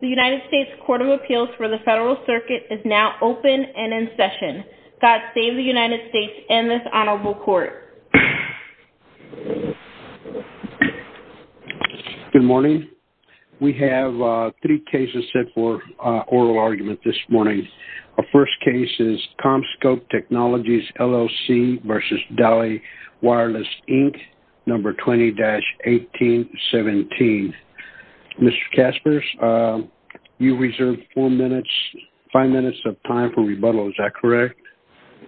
The United States Court of Appeals for the Federal Circuit is now open and in session. God save the United States and this honorable court. Good morning. We have three cases set for oral argument this morning. Our first case is ComScope Technologies LLC v. Dali Wireless Inc. No. 20-1817. Mr. Kaspers, you reserve four minutes, five minutes of time for rebuttal. Is that correct?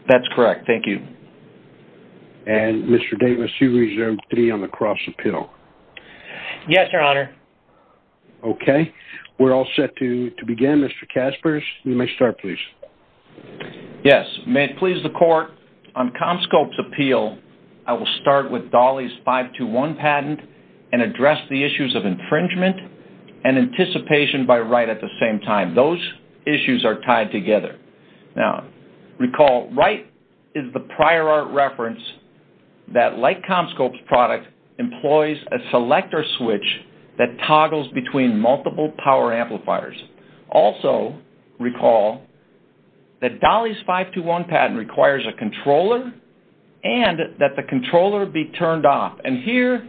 That's correct. Thank you. And Mr. Davis, you reserve three on the cross appeal. Yes, your honor. Okay. We're all set to begin. Mr. Kaspers, you may start, please. Yes. May it please the court, on ComScope's appeal, I will start with Dali's 521 patent and address the issues of infringement and anticipation by Wright at the same time. Those issues are tied together. Now, recall Wright is the prior art reference that, like ComScope's product, employs a selector switch that toggles between multiple power amplifiers. Also recall that Dali's 521 patent requires a controller and that the controller be turned off. And here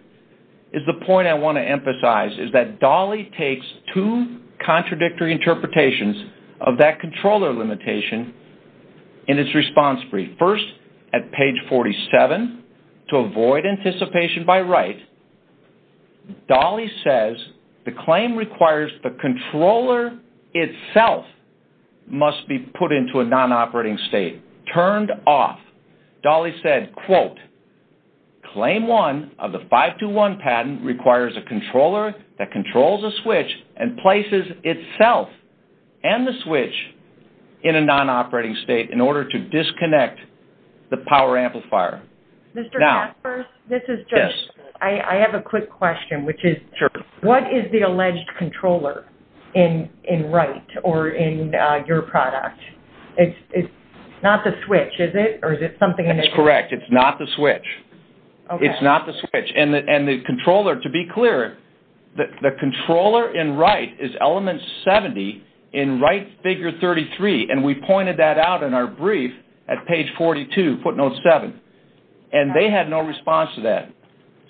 is the point I want to emphasize, is that Dali takes two contradictory interpretations of that controller limitation in its response brief. First, at page 47, to avoid anticipation by Wright, Dali says the claim requires the controller itself must be put into a non-operating state, turned off. Dali said, quote, claim one of the 521 patent requires a controller that controls a switch and places itself and the switch in a non-operating state in order to disconnect the power amplifier. Mr. Kaspers, I have a quick question, which is, what is the alleged controller in Wright or in your product? It's not the switch, is it, or is it something in addition? That's correct. It's not the switch. It's not the switch. And the controller, to be clear, the controller in Wright is element 70 in Wright figure 33, and we pointed that out in our brief at page 42, footnote 7. And they had no response to that.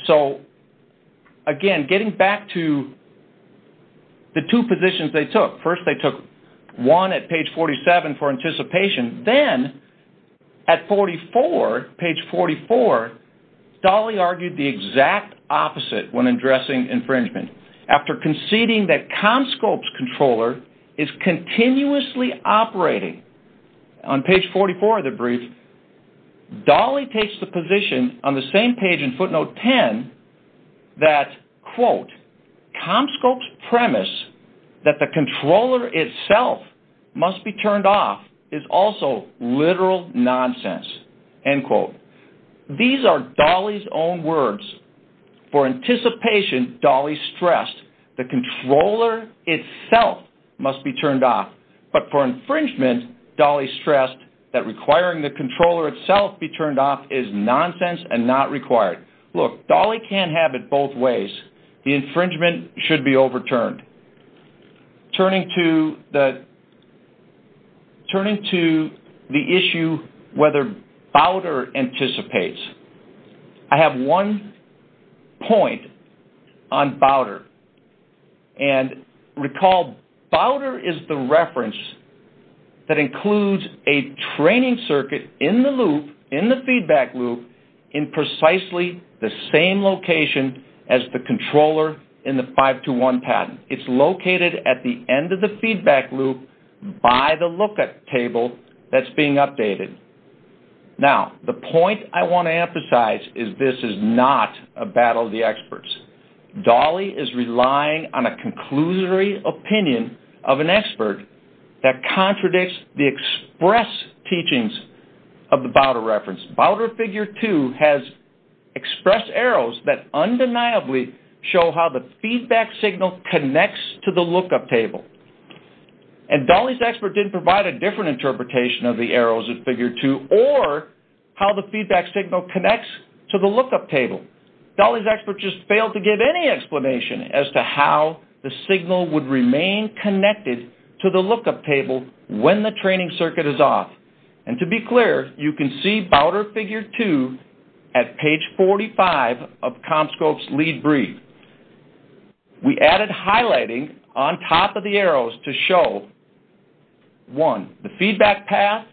So, again, getting back to the two positions they took, first they took one at page 47 for anticipation, then at 44, page 44, Dali argued the exact opposite when addressing infringement. After conceding that Comscope's controller is continuously operating, on page 44 of the brief, Dali takes the position on the same page in footnote 10 that, quote, that the controller itself must be turned off is also literal nonsense, end quote. These are Dali's own words. For anticipation, Dali stressed the controller itself must be turned off, but for infringement, Dali stressed that requiring the controller itself be turned off is nonsense and not required. Look, Dali can't have it both ways. The infringement should be overturned. Turning to the issue whether BOWDER anticipates, I have one point on BOWDER, and recall BOWDER is the reference that includes a training circuit in the loop, in precisely the same location as the controller in the 521 patent. It's located at the end of the feedback loop by the lookup table that's being updated. Now, the point I want to emphasize is this is not a battle of the experts. Dali is relying on a conclusory opinion of an expert that contradicts the express teachings of the BOWDER reference. BOWDER Figure 2 has expressed arrows that undeniably show how the feedback signal connects to the lookup table. And Dali's expert didn't provide a different interpretation of the arrows in Figure 2 or how the feedback signal connects to the lookup table. Dali's expert just failed to give any explanation as to how the signal would remain connected to the lookup table when the training circuit is off. And to be clear, you can see BOWDER Figure 2 at page 45 of CommScope's lead brief. We added highlighting on top of the arrows to show, one, the feedback path,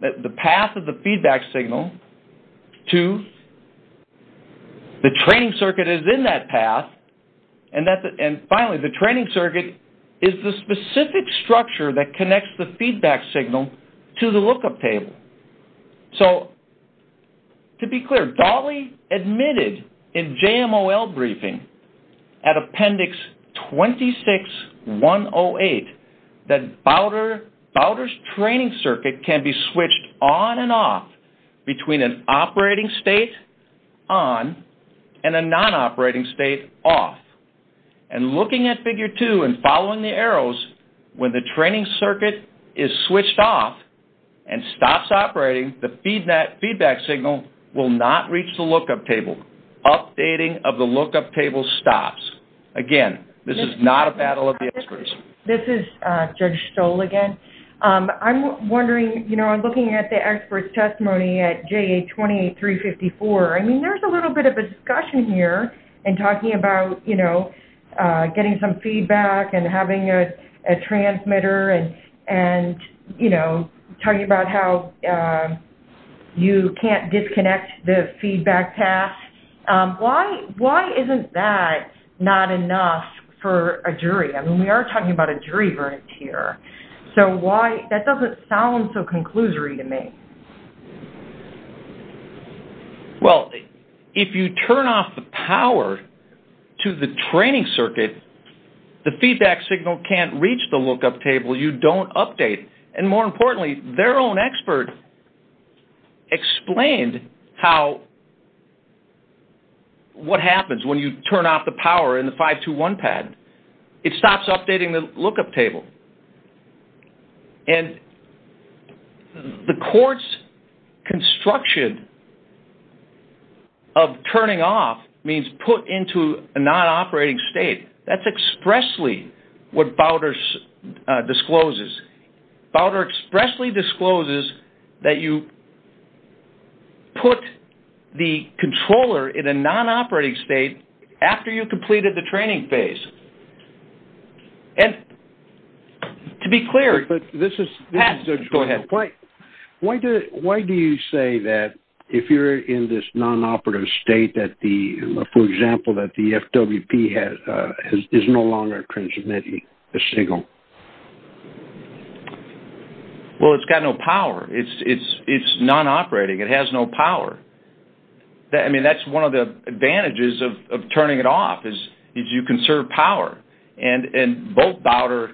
the path of the feedback signal. Two, the training circuit is in that path. And finally, the training circuit is the specific structure that connects the feedback signal to the lookup table. So, to be clear, Dali admitted in JMOL briefing at Appendix 26-108 that BOWDER's training circuit can be switched on and off between an operating state on and a non-operating state off. And looking at Figure 2 and following the arrows, when the training circuit is switched off and stops operating, the feedback signal will not reach the lookup table. Updating of the lookup table stops. Again, this is not a battle of the experts. This is Judge Stoll again. I'm wondering, you know, I'm looking at the expert's testimony at JA28354. I mean, there's a little bit of a discussion here in talking about, you know, getting some feedback and having a transmitter and, you know, talking about how you can't disconnect the feedback path. I mean, we are talking about a driver here. So why – that doesn't sound so conclusory to me. Well, if you turn off the power to the training circuit, the feedback signal can't reach the lookup table. You don't update. And more importantly, their own expert explained how – what happens when you turn off the power in the 521 pad. It stops updating the lookup table. And the court's construction of turning off means put into a non-operating state. That's expressly what Bowder discloses. Bowder expressly discloses that you put the controller in a non-operating state after you completed the training phase. And to be clear – But this is – Go ahead. Why do you say that if you're in this non-operative state that the – for example, that the FWP is no longer transmitting a signal? Well, it's got no power. It's non-operating. It has no power. I mean, that's one of the advantages of turning it off is you conserve power. And both Bowder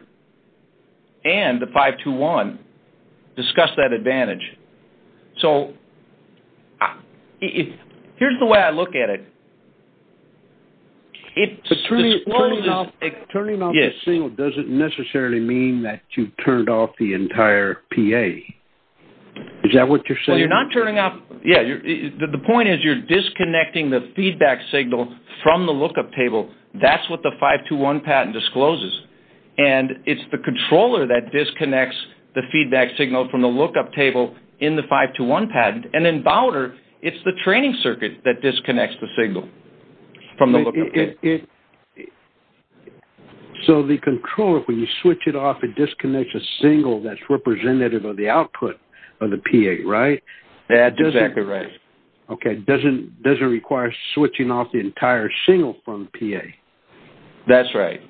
and the 521 discuss that advantage. So here's the way I look at it. It's – Turning off the signal doesn't necessarily mean that you turned off the entire PA. Is that what you're saying? Well, you're not turning off – yeah. The point is you're disconnecting the feedback signal from the lookup table. That's what the 521 patent discloses. And it's the controller that disconnects the feedback signal from the lookup table in the 521 patent. And in Bowder, it's the training circuit that disconnects the signal from the lookup table. So the controller, when you switch it off, it disconnects a signal that's representative of the output of the PA, right? That's exactly right. Okay. Doesn't require switching off the entire signal from the PA. That's right.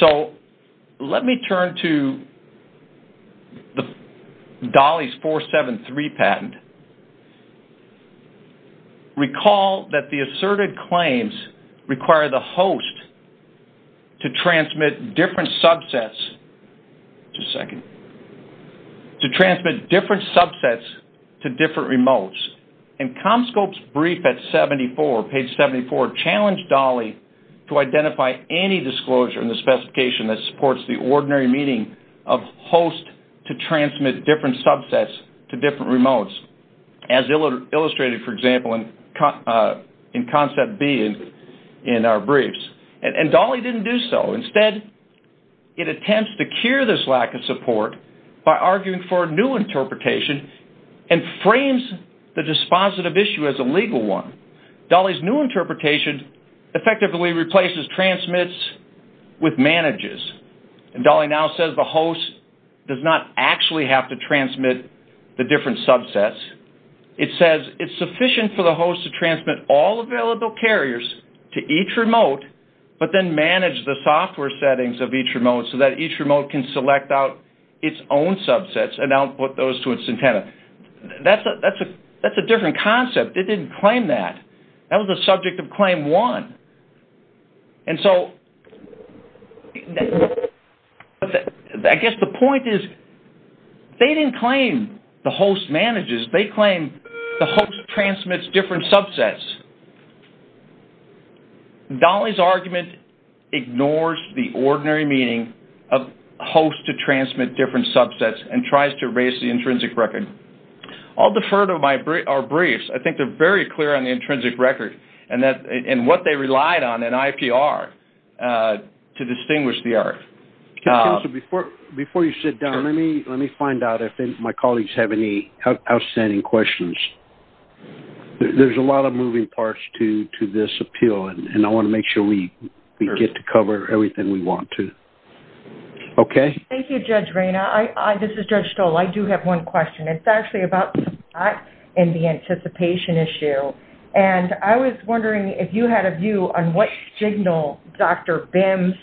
So let me turn to Dolly's 473 patent. Recall that the asserted claims require the host to transmit different subsets – Just a second. To transmit different subsets to different remotes. And Comscope's brief at 74, page 74, challenged Dolly to identify any disclosure in the specification that supports the ordinary meaning of host to transmit different subsets to different remotes. As illustrated, for example, in concept B in our briefs. And Dolly didn't do so. Instead, it attempts to cure this lack of support by arguing for a new interpretation and frames the dispositive issue as a legal one. Dolly's new interpretation effectively replaces transmits with manages. And Dolly now says the host does not actually have to transmit the different subsets. It says it's sufficient for the host to transmit all available carriers to each remote, but then manage the software settings of each remote so that each remote can select out its own subsets and output those to its antenna. That's a different concept. It didn't claim that. That was the subject of Claim 1. I guess the point is they didn't claim the host manages. They claimed the host transmits different subsets. Dolly's argument ignores the ordinary meaning of host to transmit different subsets and tries to erase the intrinsic record. I'll defer to our briefs. I think they're very clear on the intrinsic record and what they relied on in IPR to distinguish the art. Before you sit down, let me find out if my colleagues have any outstanding questions. There's a lot of moving parts to this appeal, and I want to make sure we get to cover everything we want to. Okay. Thank you, Judge Rayna. This is Judge Stoll. I do have one question. It's actually about the spot and the anticipation issue. And I was wondering if you had a view on what signal Dr. Bims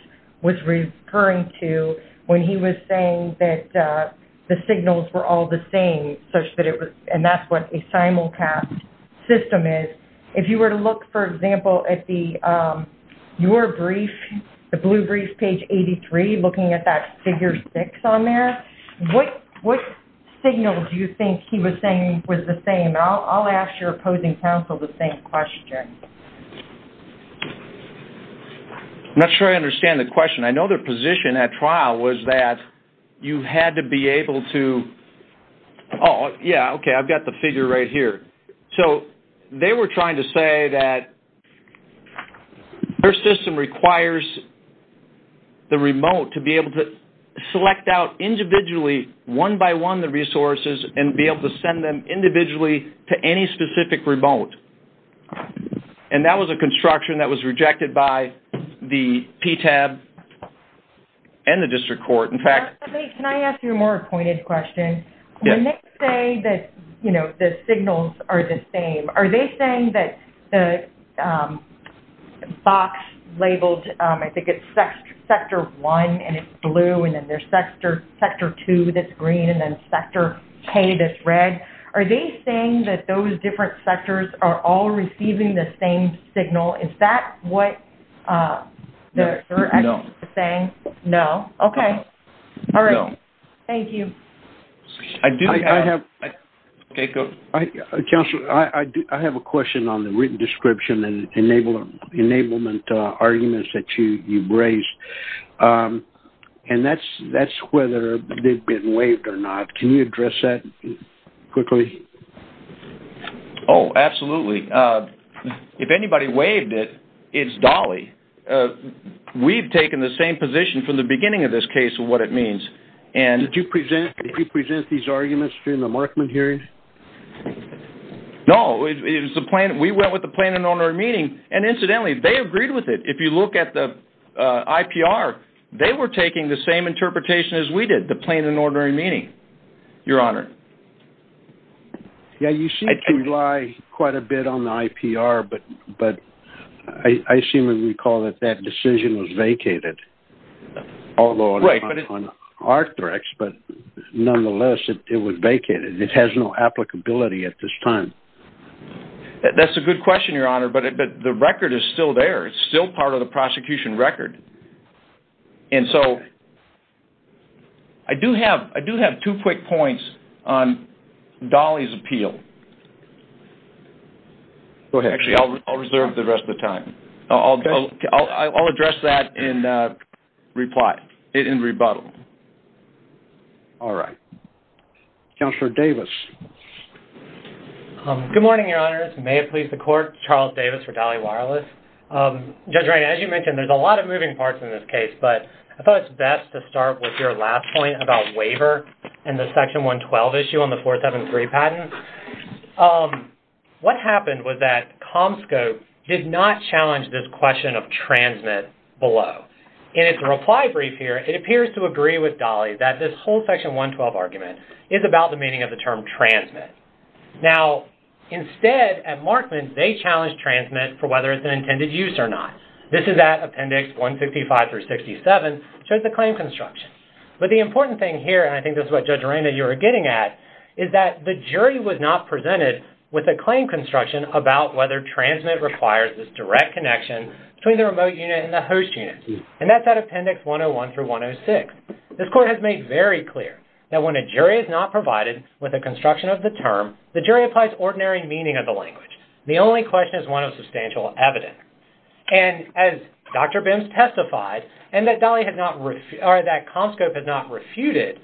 was referring to when he was saying that the signals were all the same, and that's what a simulcast system is. If you were to look, for example, at your brief, the blue brief, page 83, looking at that figure six on there, what signal do you think he was saying was the same? I'll ask your opposing counsel the same question. I'm not sure I understand the question. I know their position at trial was that you had to be able to – oh, yeah, okay, I've got the figure right here. So they were trying to say that their system requires the remote to be able to select out individually, one by one, the resources and be able to send them individually to any specific remote. And that was a construction that was rejected by the PTAB and the district court. In fact – Can I ask you a more pointed question? Yes. When they say that, you know, the signals are the same, are they saying that the box labeled, I think it's sector one, and it's blue, and then there's sector two that's green, and then sector K that's red, are they saying that those different sectors are all receiving the same signal? Is that what they're actually saying? No. No? Okay. No. All right. Thank you. Counselor, I have a question on the written description and enablement arguments that you've raised, and that's whether they've been waived or not. Can you address that quickly? Oh, absolutely. If anybody waived it, it's Dolly. We've taken the same position from the beginning of this case of what it means. Did you present these arguments during the Markman hearing? No. We went with the plain and ordinary meaning, and incidentally, they agreed with it. If you look at the IPR, they were taking the same interpretation as we did, the plain and ordinary meaning, Your Honor. Yeah, you seem to rely quite a bit on the IPR, but I seem to recall that that decision was vacated, although on ArcDirect, but nonetheless, it was vacated. It has no applicability at this time. That's a good question, Your Honor, but the record is still there. It's still part of the prosecution record. And so I do have two quick points on Dolly's appeal. Go ahead. Actually, I'll reserve the rest of the time. I'll address that in rebuttal. All right. Counselor Davis. Good morning, Your Honors. May it please the Court, Charles Davis for Dolly Wireless. Judge Reina, as you mentioned, there's a lot of moving parts in this case, but I thought it's best to start with your last point about waiver and the Section 112 issue on the 473 patent. What happened was that Comscope did not challenge this question of transmit below. In its reply brief here, it appears to agree with Dolly that this whole Section 112 argument is about the meaning of the term transmit. Now, instead, at Markman, they challenged transmit for whether it's an intended use or not. This is at Appendix 165 through 67. It shows the claim construction. But the important thing here, and I think this is what, Judge Reina, you were getting at, is that the jury was not presented with a claim construction about whether transmit requires this direct connection between the remote unit and the host unit. And that's at Appendix 101 through 106. This Court has made very clear that when a jury is not provided with a construction of the term, the jury applies ordinary meaning of the language. The only question is one of substantial evidence. And as Dr. Bims testified, and that Comscope had not refuted,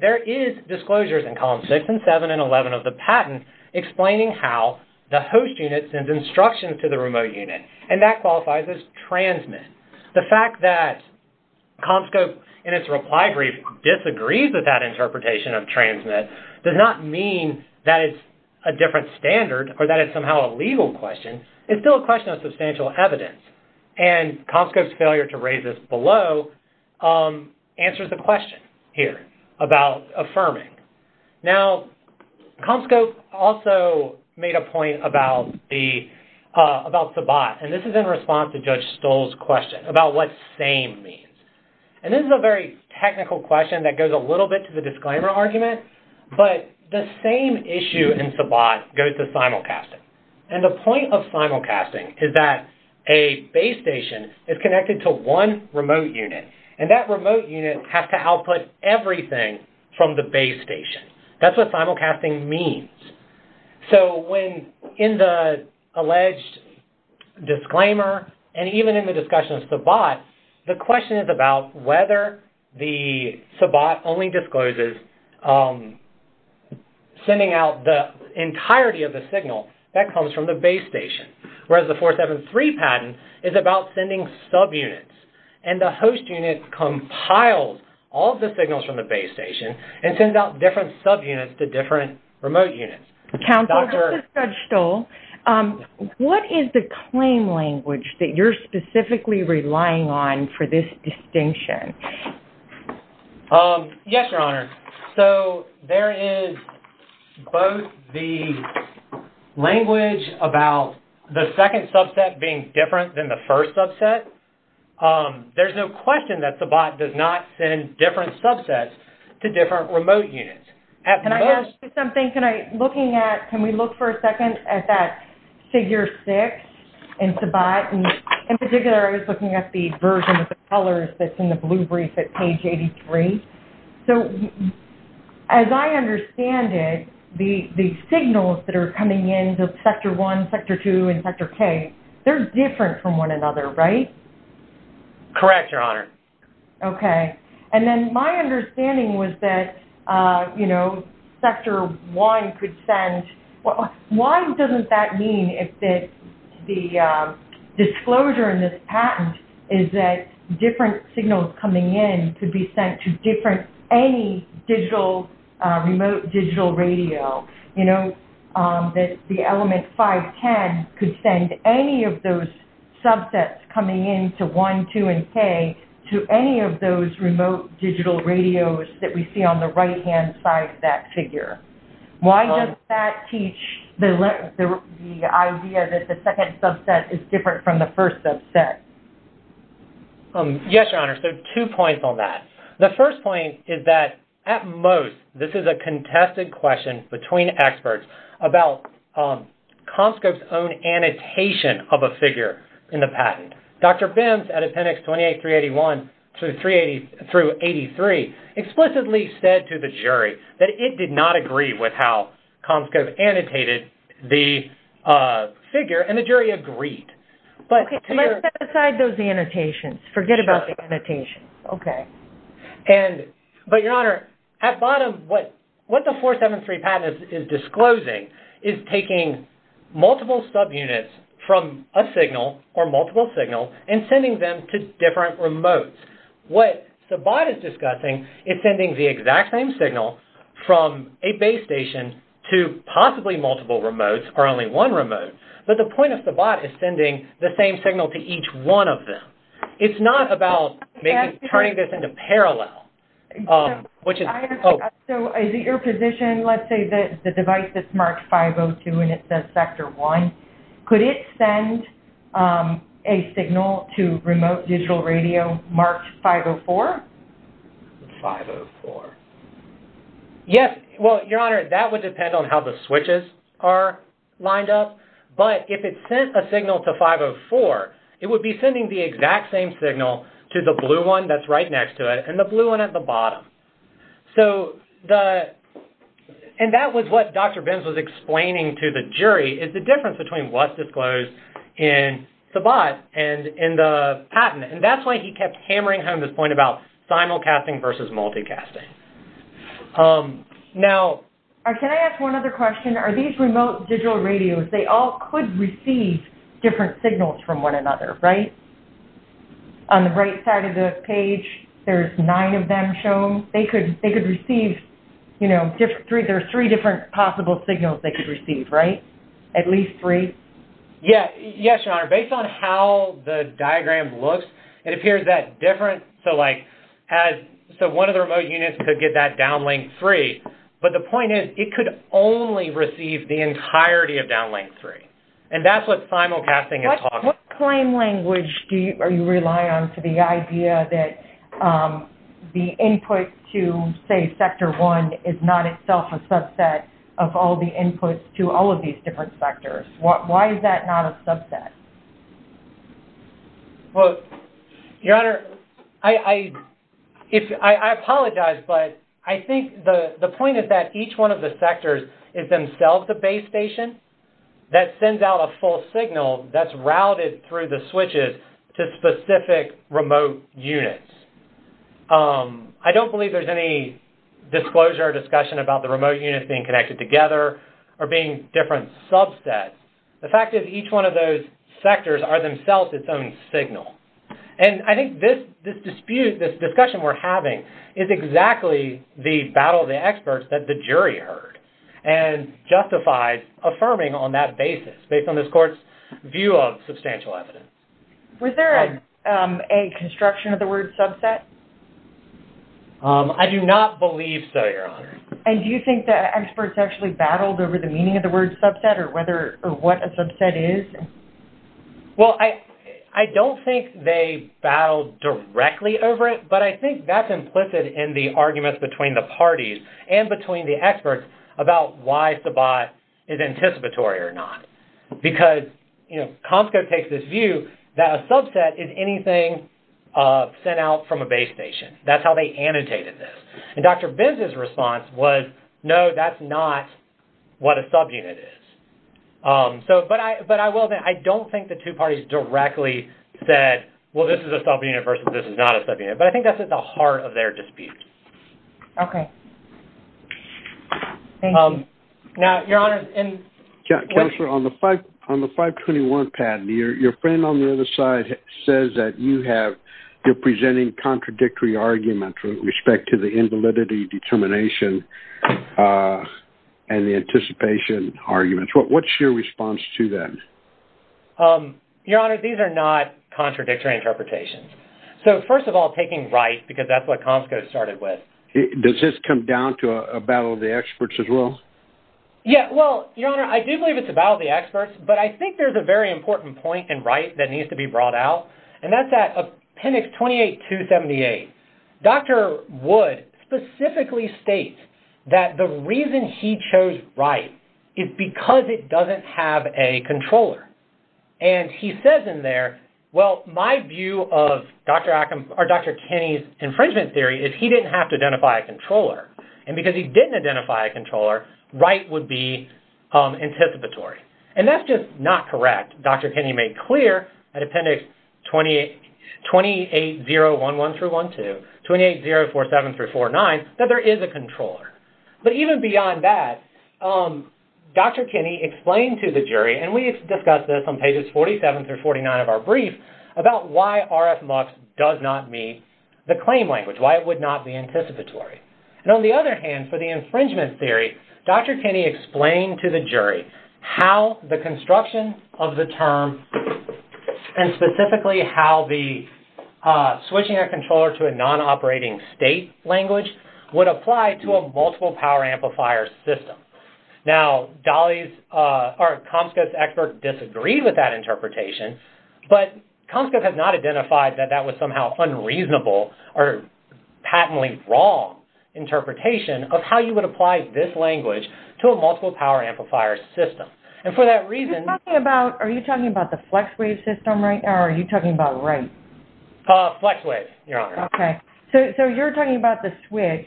there is disclosures in Columns 6 and 7 and 11 of the patent explaining how the host unit sends instructions to the remote unit, and that qualifies as transmit. The fact that Comscope, in its reply brief, disagrees with that interpretation of transmit does not mean that it's a different standard or that it's somehow a legal question. It's still a question of substantial evidence. And Comscope's failure to raise this below answers the question here about affirming. Now, Comscope also made a point about the bot, and this is in response to Judge Stoll's question about what same means. And this is a very technical question that goes a little bit to the disclaimer argument, but the same issue in SBOT goes to simulcasting. And the point of simulcasting is that a base station is connected to one remote unit, and that remote unit has to output everything from the base station. That's what simulcasting means. So when in the alleged disclaimer, and even in the discussion of SBOT, the question is about whether the SBOT only discloses sending out the entirety of the signal that comes from the base station, whereas the 473 patent is about sending subunits. And the host unit compiles all of the signals from the base station and sends out different subunits to different remote units. Counsel, this is Judge Stoll. What is the claim language that you're specifically relying on for this distinction? Yes, Your Honor. So there is both the language about the second subset being different than the first subset. There's no question that SBOT does not send different subsets to different remote units. Can I ask you something? Can we look for a second at that figure 6 in SBOT? In particular, I was looking at the version of the colors that's in the blue brief at page 83. So as I understand it, the signals that are coming in, the sector 1, sector 2, and sector K, they're different from one another, right? Correct, Your Honor. Okay. And then my understanding was that, you know, sector 1 could send – why doesn't that mean that the disclosure in this patent is that different signals coming in could be sent to any remote digital radio? You know, the element 510 could send any of those subsets coming in to 1, 2, and K to any of those remote digital radios that we see on the right-hand side of that figure. Why does that teach the idea that the second subset is different from the first subset? Yes, Your Honor. So two points on that. The first point is that, at most, this is a contested question between experts about Comscope's own annotation of a figure in the patent. Dr. Benz, at Appendix 28381 through 83, explicitly said to the jury that it did not agree with how Comscope annotated the figure, and the jury agreed. Okay, so let's set aside those annotations. Forget about the annotation. Okay. But, Your Honor, at bottom, what the 473 patent is disclosing is taking multiple subunits from a signal or multiple signals and sending them to different remotes. What Sabat is discussing is sending the exact same signal from a base station to possibly multiple remotes or only one remote. But the point of Sabat is sending the same signal to each one of them. It's not about turning this into parallel, which is... So is it your position, let's say the device that's marked 502 and it says Sector 1, could it send a signal to remote digital radio marked 504? 504. Yes. Well, Your Honor, that would depend on how the switches are lined up. But if it sent a signal to 504, it would be sending the exact same signal to the blue one that's right next to it and the blue one at the bottom. So the... And that was what Dr. Benz was explaining to the jury, is the difference between what's disclosed in Sabat and in the patent. And that's why he kept hammering home this point about simulcasting versus multicasting. Now... Can I ask one other question? Are these remote digital radios, they all could receive different signals from one another, right? On the right side of the page, there's nine of them shown. They could receive, you know, there's three different possible signals they could receive, right? At least three? Yes, Your Honor. Based on how the diagram looks, it appears that different. So like has... So one of the remote units could get that downlink free. But the point is, it could only receive the entirety of downlink free. And that's what simulcasting is talking about. What claim language do you rely on to the idea that the input to, say, sector one is not itself a subset of all the inputs to all of these different sectors? Why is that not a subset? Well, Your Honor, I apologize, but I think the point is that each one of the sectors is themselves a base station that sends out a full signal that's routed through the switches to specific remote units. I don't believe there's any disclosure or discussion about the remote units being connected together or being different subsets. The fact is each one of those sectors are themselves its own signal. And I think this dispute, this discussion we're having, is exactly the battle of the experts that the jury heard and justified affirming on that basis based on this court's view of substantial evidence. Was there a construction of the word subset? I do not believe so, Your Honor. And do you think the experts actually battled over the meaning of the word subset or what a subset is? Well, I don't think they battled directly over it, but I think that's implicit in the arguments between the parties and between the experts about why subot is anticipatory or not. Because, you know, COMSCO takes this view that a subset is anything sent out from a base station. That's how they annotated this. And Dr. Benz's response was, no, that's not what a subunit is. But I will admit, I don't think the two parties directly said, well, this is a subunit versus this is not a subunit. But I think that's at the heart of their dispute. Okay. Thank you. Now, Your Honor, and... Counselor, on the 521 patent, your friend on the other side says that you have, you're presenting contradictory arguments with respect to the invalidity determination and the anticipation arguments. What's your response to that? Your Honor, these are not contradictory interpretations. So, first of all, taking right, because that's what COMSCO started with. Does this come down to a battle of the experts as well? Yeah, well, Your Honor, I do believe it's a battle of the experts, but I think there's a very important point in right that needs to be brought out, and that's at Appendix 28278. Dr. Wood specifically states that the reason he chose right is because it doesn't have a controller. And he says in there, well, my view of Dr. Kenny's infringement theory is he didn't have to identify a controller, and because he didn't identify a controller, right would be anticipatory. And that's just not correct. Dr. Kenny made clear at Appendix 28011-12, 28047-49, that there is a controller. But even beyond that, Dr. Kenny explained to the jury, and we discussed this on pages 47-49 of our brief, about why RF-MUX does not meet the claim language, why it would not be anticipatory. And on the other hand, for the infringement theory, Dr. Kenny explained to the jury how the construction of the term, and specifically how the switching a controller to a non-operating state language would apply to a multiple power amplifier system. Now, Comscote's expert disagreed with that interpretation, but Comscote has not identified that that was somehow unreasonable or patently wrong interpretation of how you would apply this language to a multiple power amplifier system. And for that reason... Are you talking about the FlexWave system right now, or are you talking about right? FlexWave, Your Honor. Okay. So you're talking about the switch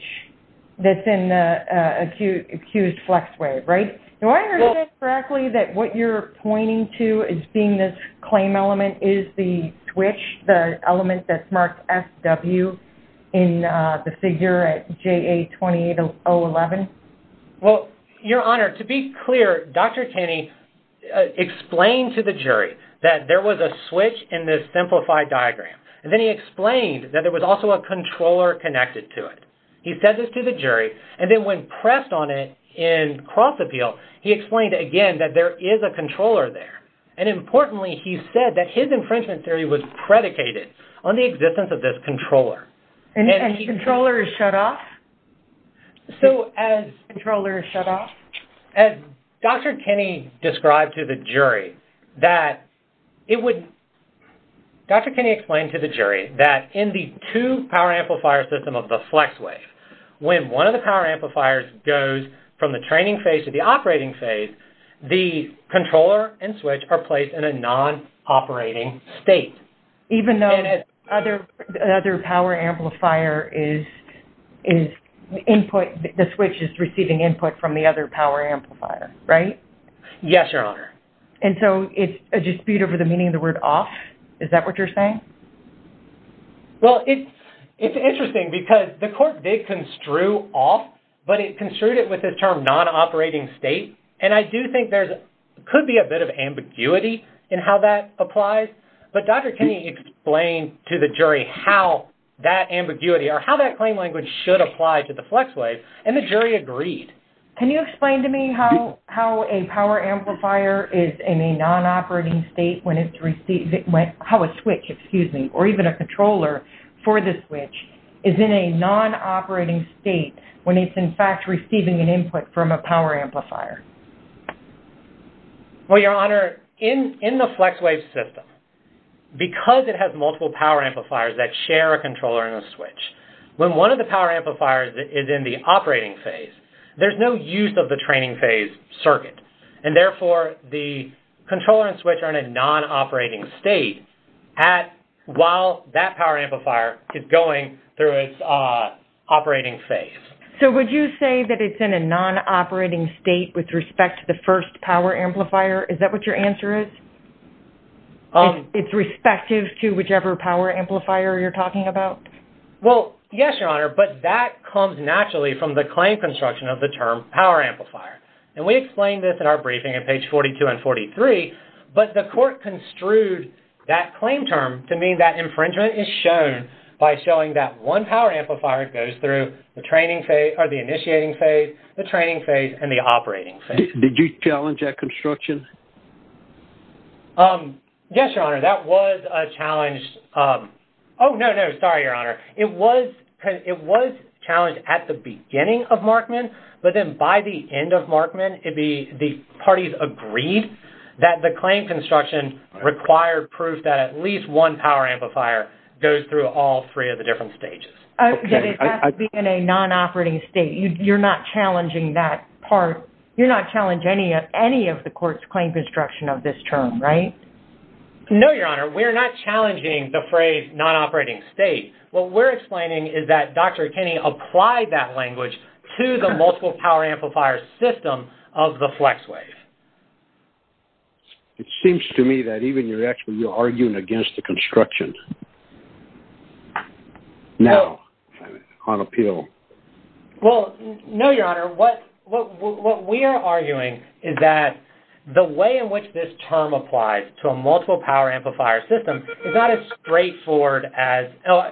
that's in the accused FlexWave, right? Do I understand correctly that what you're pointing to as being this claim element is the switch, the element that's marked FW in the figure at JA-28011? Well, Your Honor, to be clear, Dr. Kenny explained to the jury that there was a switch in this simplified diagram. And then he explained that there was also a controller connected to it. He said this to the jury, and then when pressed on it in cross-appeal, he explained again that there is a controller there. And importantly, he said that his infringement theory was predicated on the existence of this controller. And the controller is shut off? So as controller is shut off? As Dr. Kenny described to the jury that it would... Dr. Kenny explained to the jury that in the two-power amplifier system of the FlexWave, when one of the power amplifiers goes from the training phase to the operating phase, the controller and switch are placed in a non-operating state. Even though the other power amplifier is input, the switch is receiving input from the other power amplifier, right? Yes, Your Honor. And so it's a dispute over the meaning of the word off? Is that what you're saying? Well, it's interesting because the court did construe off, but it construed it with the term non-operating state. And I do think there could be a bit of ambiguity in how that applies. But Dr. Kenny explained to the jury how that ambiguity or how that claim language should apply to the FlexWave, and the jury agreed. Can you explain to me how a power amplifier is in a non-operating state when it's receiving... how a switch, excuse me, or even a controller for the switch is in a non-operating state when it's in fact receiving an input from a power amplifier? Well, Your Honor, in the FlexWave system, because it has multiple power amplifiers that share a controller and a switch, when one of the power amplifiers is in the operating phase, there's no use of the training phase circuit, and therefore the controller and switch are in a non-operating state while that power amplifier is going through its operating phase. So would you say that it's in a non-operating state with respect to the first power amplifier? Is that what your answer is? It's respective to whichever power amplifier you're talking about? Well, yes, Your Honor, but that comes naturally from the claim construction of the term power amplifier. And we explained this in our briefing on page 42 and 43, but the court construed that claim term to mean that infringement is shown by showing that one power amplifier goes through the training phase... Did you challenge that construction? Yes, Your Honor, that was a challenge. Oh, no, no, sorry, Your Honor. It was challenged at the beginning of Markman, but then by the end of Markman, the parties agreed that the claim construction required proof that at least one power amplifier goes through all three of the different stages. It has to be in a non-operating state. So you're not challenging that part? You're not challenging any of the court's claim construction of this term, right? No, Your Honor, we're not challenging the phrase non-operating state. What we're explaining is that Dr. Kenney applied that language to the multiple power amplifier system of the flex wave. It seems to me that even you're actually arguing against the construction. No. On appeal. Well, no, Your Honor. What we are arguing is that the way in which this term applies to a multiple power amplifier system is not as straightforward as...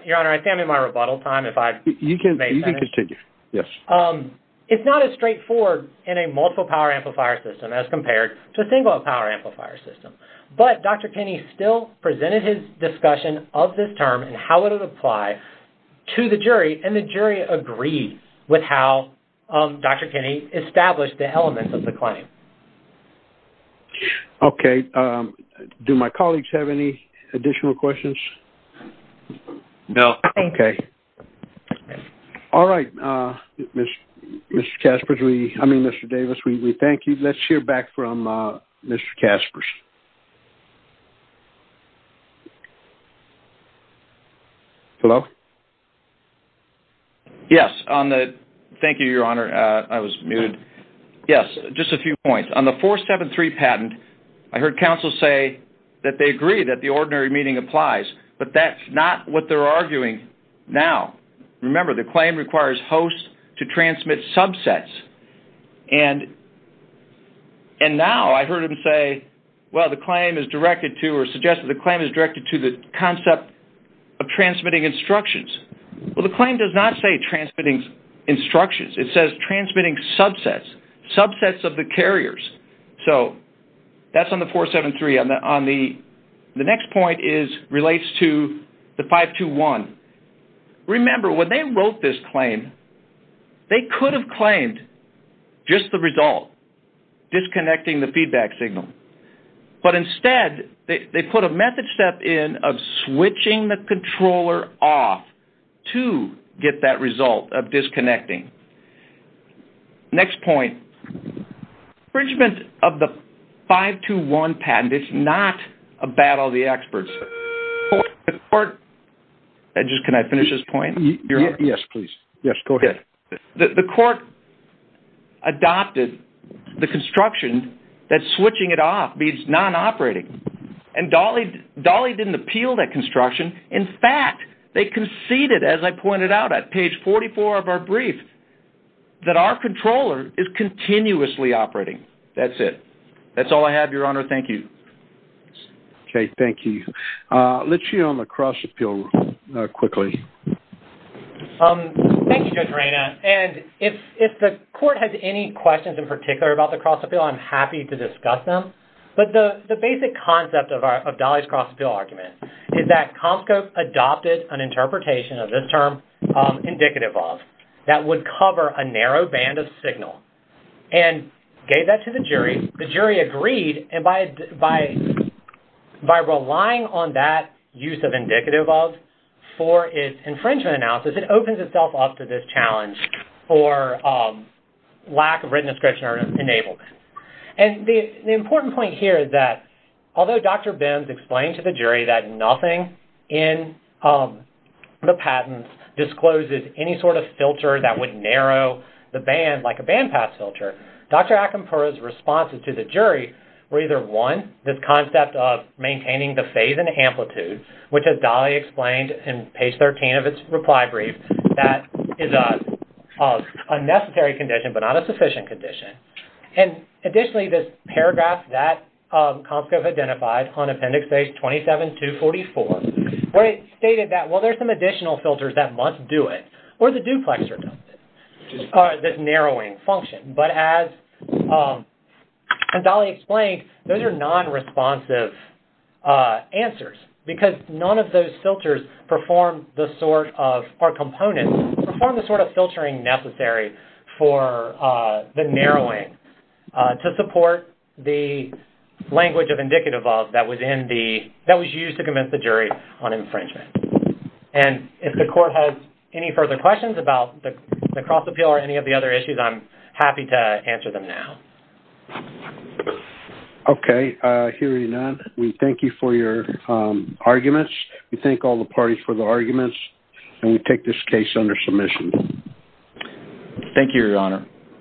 Your Honor, I think I'm in my rebuttal time. You can continue, yes. It's not as straightforward in a multiple power amplifier system as compared to a single power amplifier system. But Dr. Kenney still presented his discussion of this term and how it would apply to the jury, and the jury agreed with how Dr. Kenney established the elements of the claim. Okay. Do my colleagues have any additional questions? No. Okay. All right, Mr. Caspers, I mean, Mr. Davis, we thank you. Let's hear back from Mr. Caspers. Hello? Yes. Thank you, Your Honor. I was muted. Yes, just a few points. On the 473 patent, I heard counsel say that they agree that the ordinary meaning applies, but that's not what they're arguing now. Remember, the claim requires hosts to transmit subsets, and now I heard him say, well, the claim is directed to or suggest that the claim is directed to the concept of transmitting instructions. Well, the claim does not say transmitting instructions. It says transmitting subsets, subsets of the carriers. So that's on the 473. The next point relates to the 521. Remember, when they wrote this claim, they could have claimed just the result, disconnecting the feedback signal. But instead, they put a method step in of switching the controller off to get that result of disconnecting. Next point, infringement of the 521 patent is not a battle of the experts. Can I finish this point? Yes, please. Yes, go ahead. The court adopted the construction that switching it off means non-operating, and Dolly didn't appeal that construction. In fact, they conceded, as I pointed out at page 44 of our brief, that our controller is continuously operating. That's it. That's all I have, Your Honor. Thank you. Okay, thank you. Let's hear on the cross-appeal quickly. Thank you, Judge Reina. And if the court has any questions in particular about the cross-appeal, I'm happy to discuss them. But the basic concept of Dolly's cross-appeal argument is that Comscope adopted an interpretation of this term, indicative of, that would cover a narrow band of signal and gave that to the jury. The jury agreed. And by relying on that use of indicative of for its infringement analysis, it opens itself up to this challenge for lack of written description or enablement. And the important point here is that although Dr. Benz explained to the jury that nothing in the patent discloses any sort of filter that would narrow the band like a band pass filter, Dr. Akinpura's responses to the jury were either, one, this concept of maintaining the phase and amplitude, which as Dolly explained in page 13 of its reply brief, that is a necessary condition but not a sufficient condition. And additionally, this paragraph that Comscope identified on appendix A27244 where it stated that, well, there's some additional filters that must do it or the duplexer does it. This narrowing function. But as Dolly explained, those are non-responsive answers because none of those filters perform the sort of, or components, perform the sort of filtering necessary for the narrowing to support the language of indicative of that was used to convince the jury on infringement. And if the court has any further questions about the cross-appeal or any of the other issues, I'm happy to answer them now. Okay. Hearing none, we thank you for your arguments. We thank all the parties for the arguments. And we take this case under submission. Thank you, Your Honor.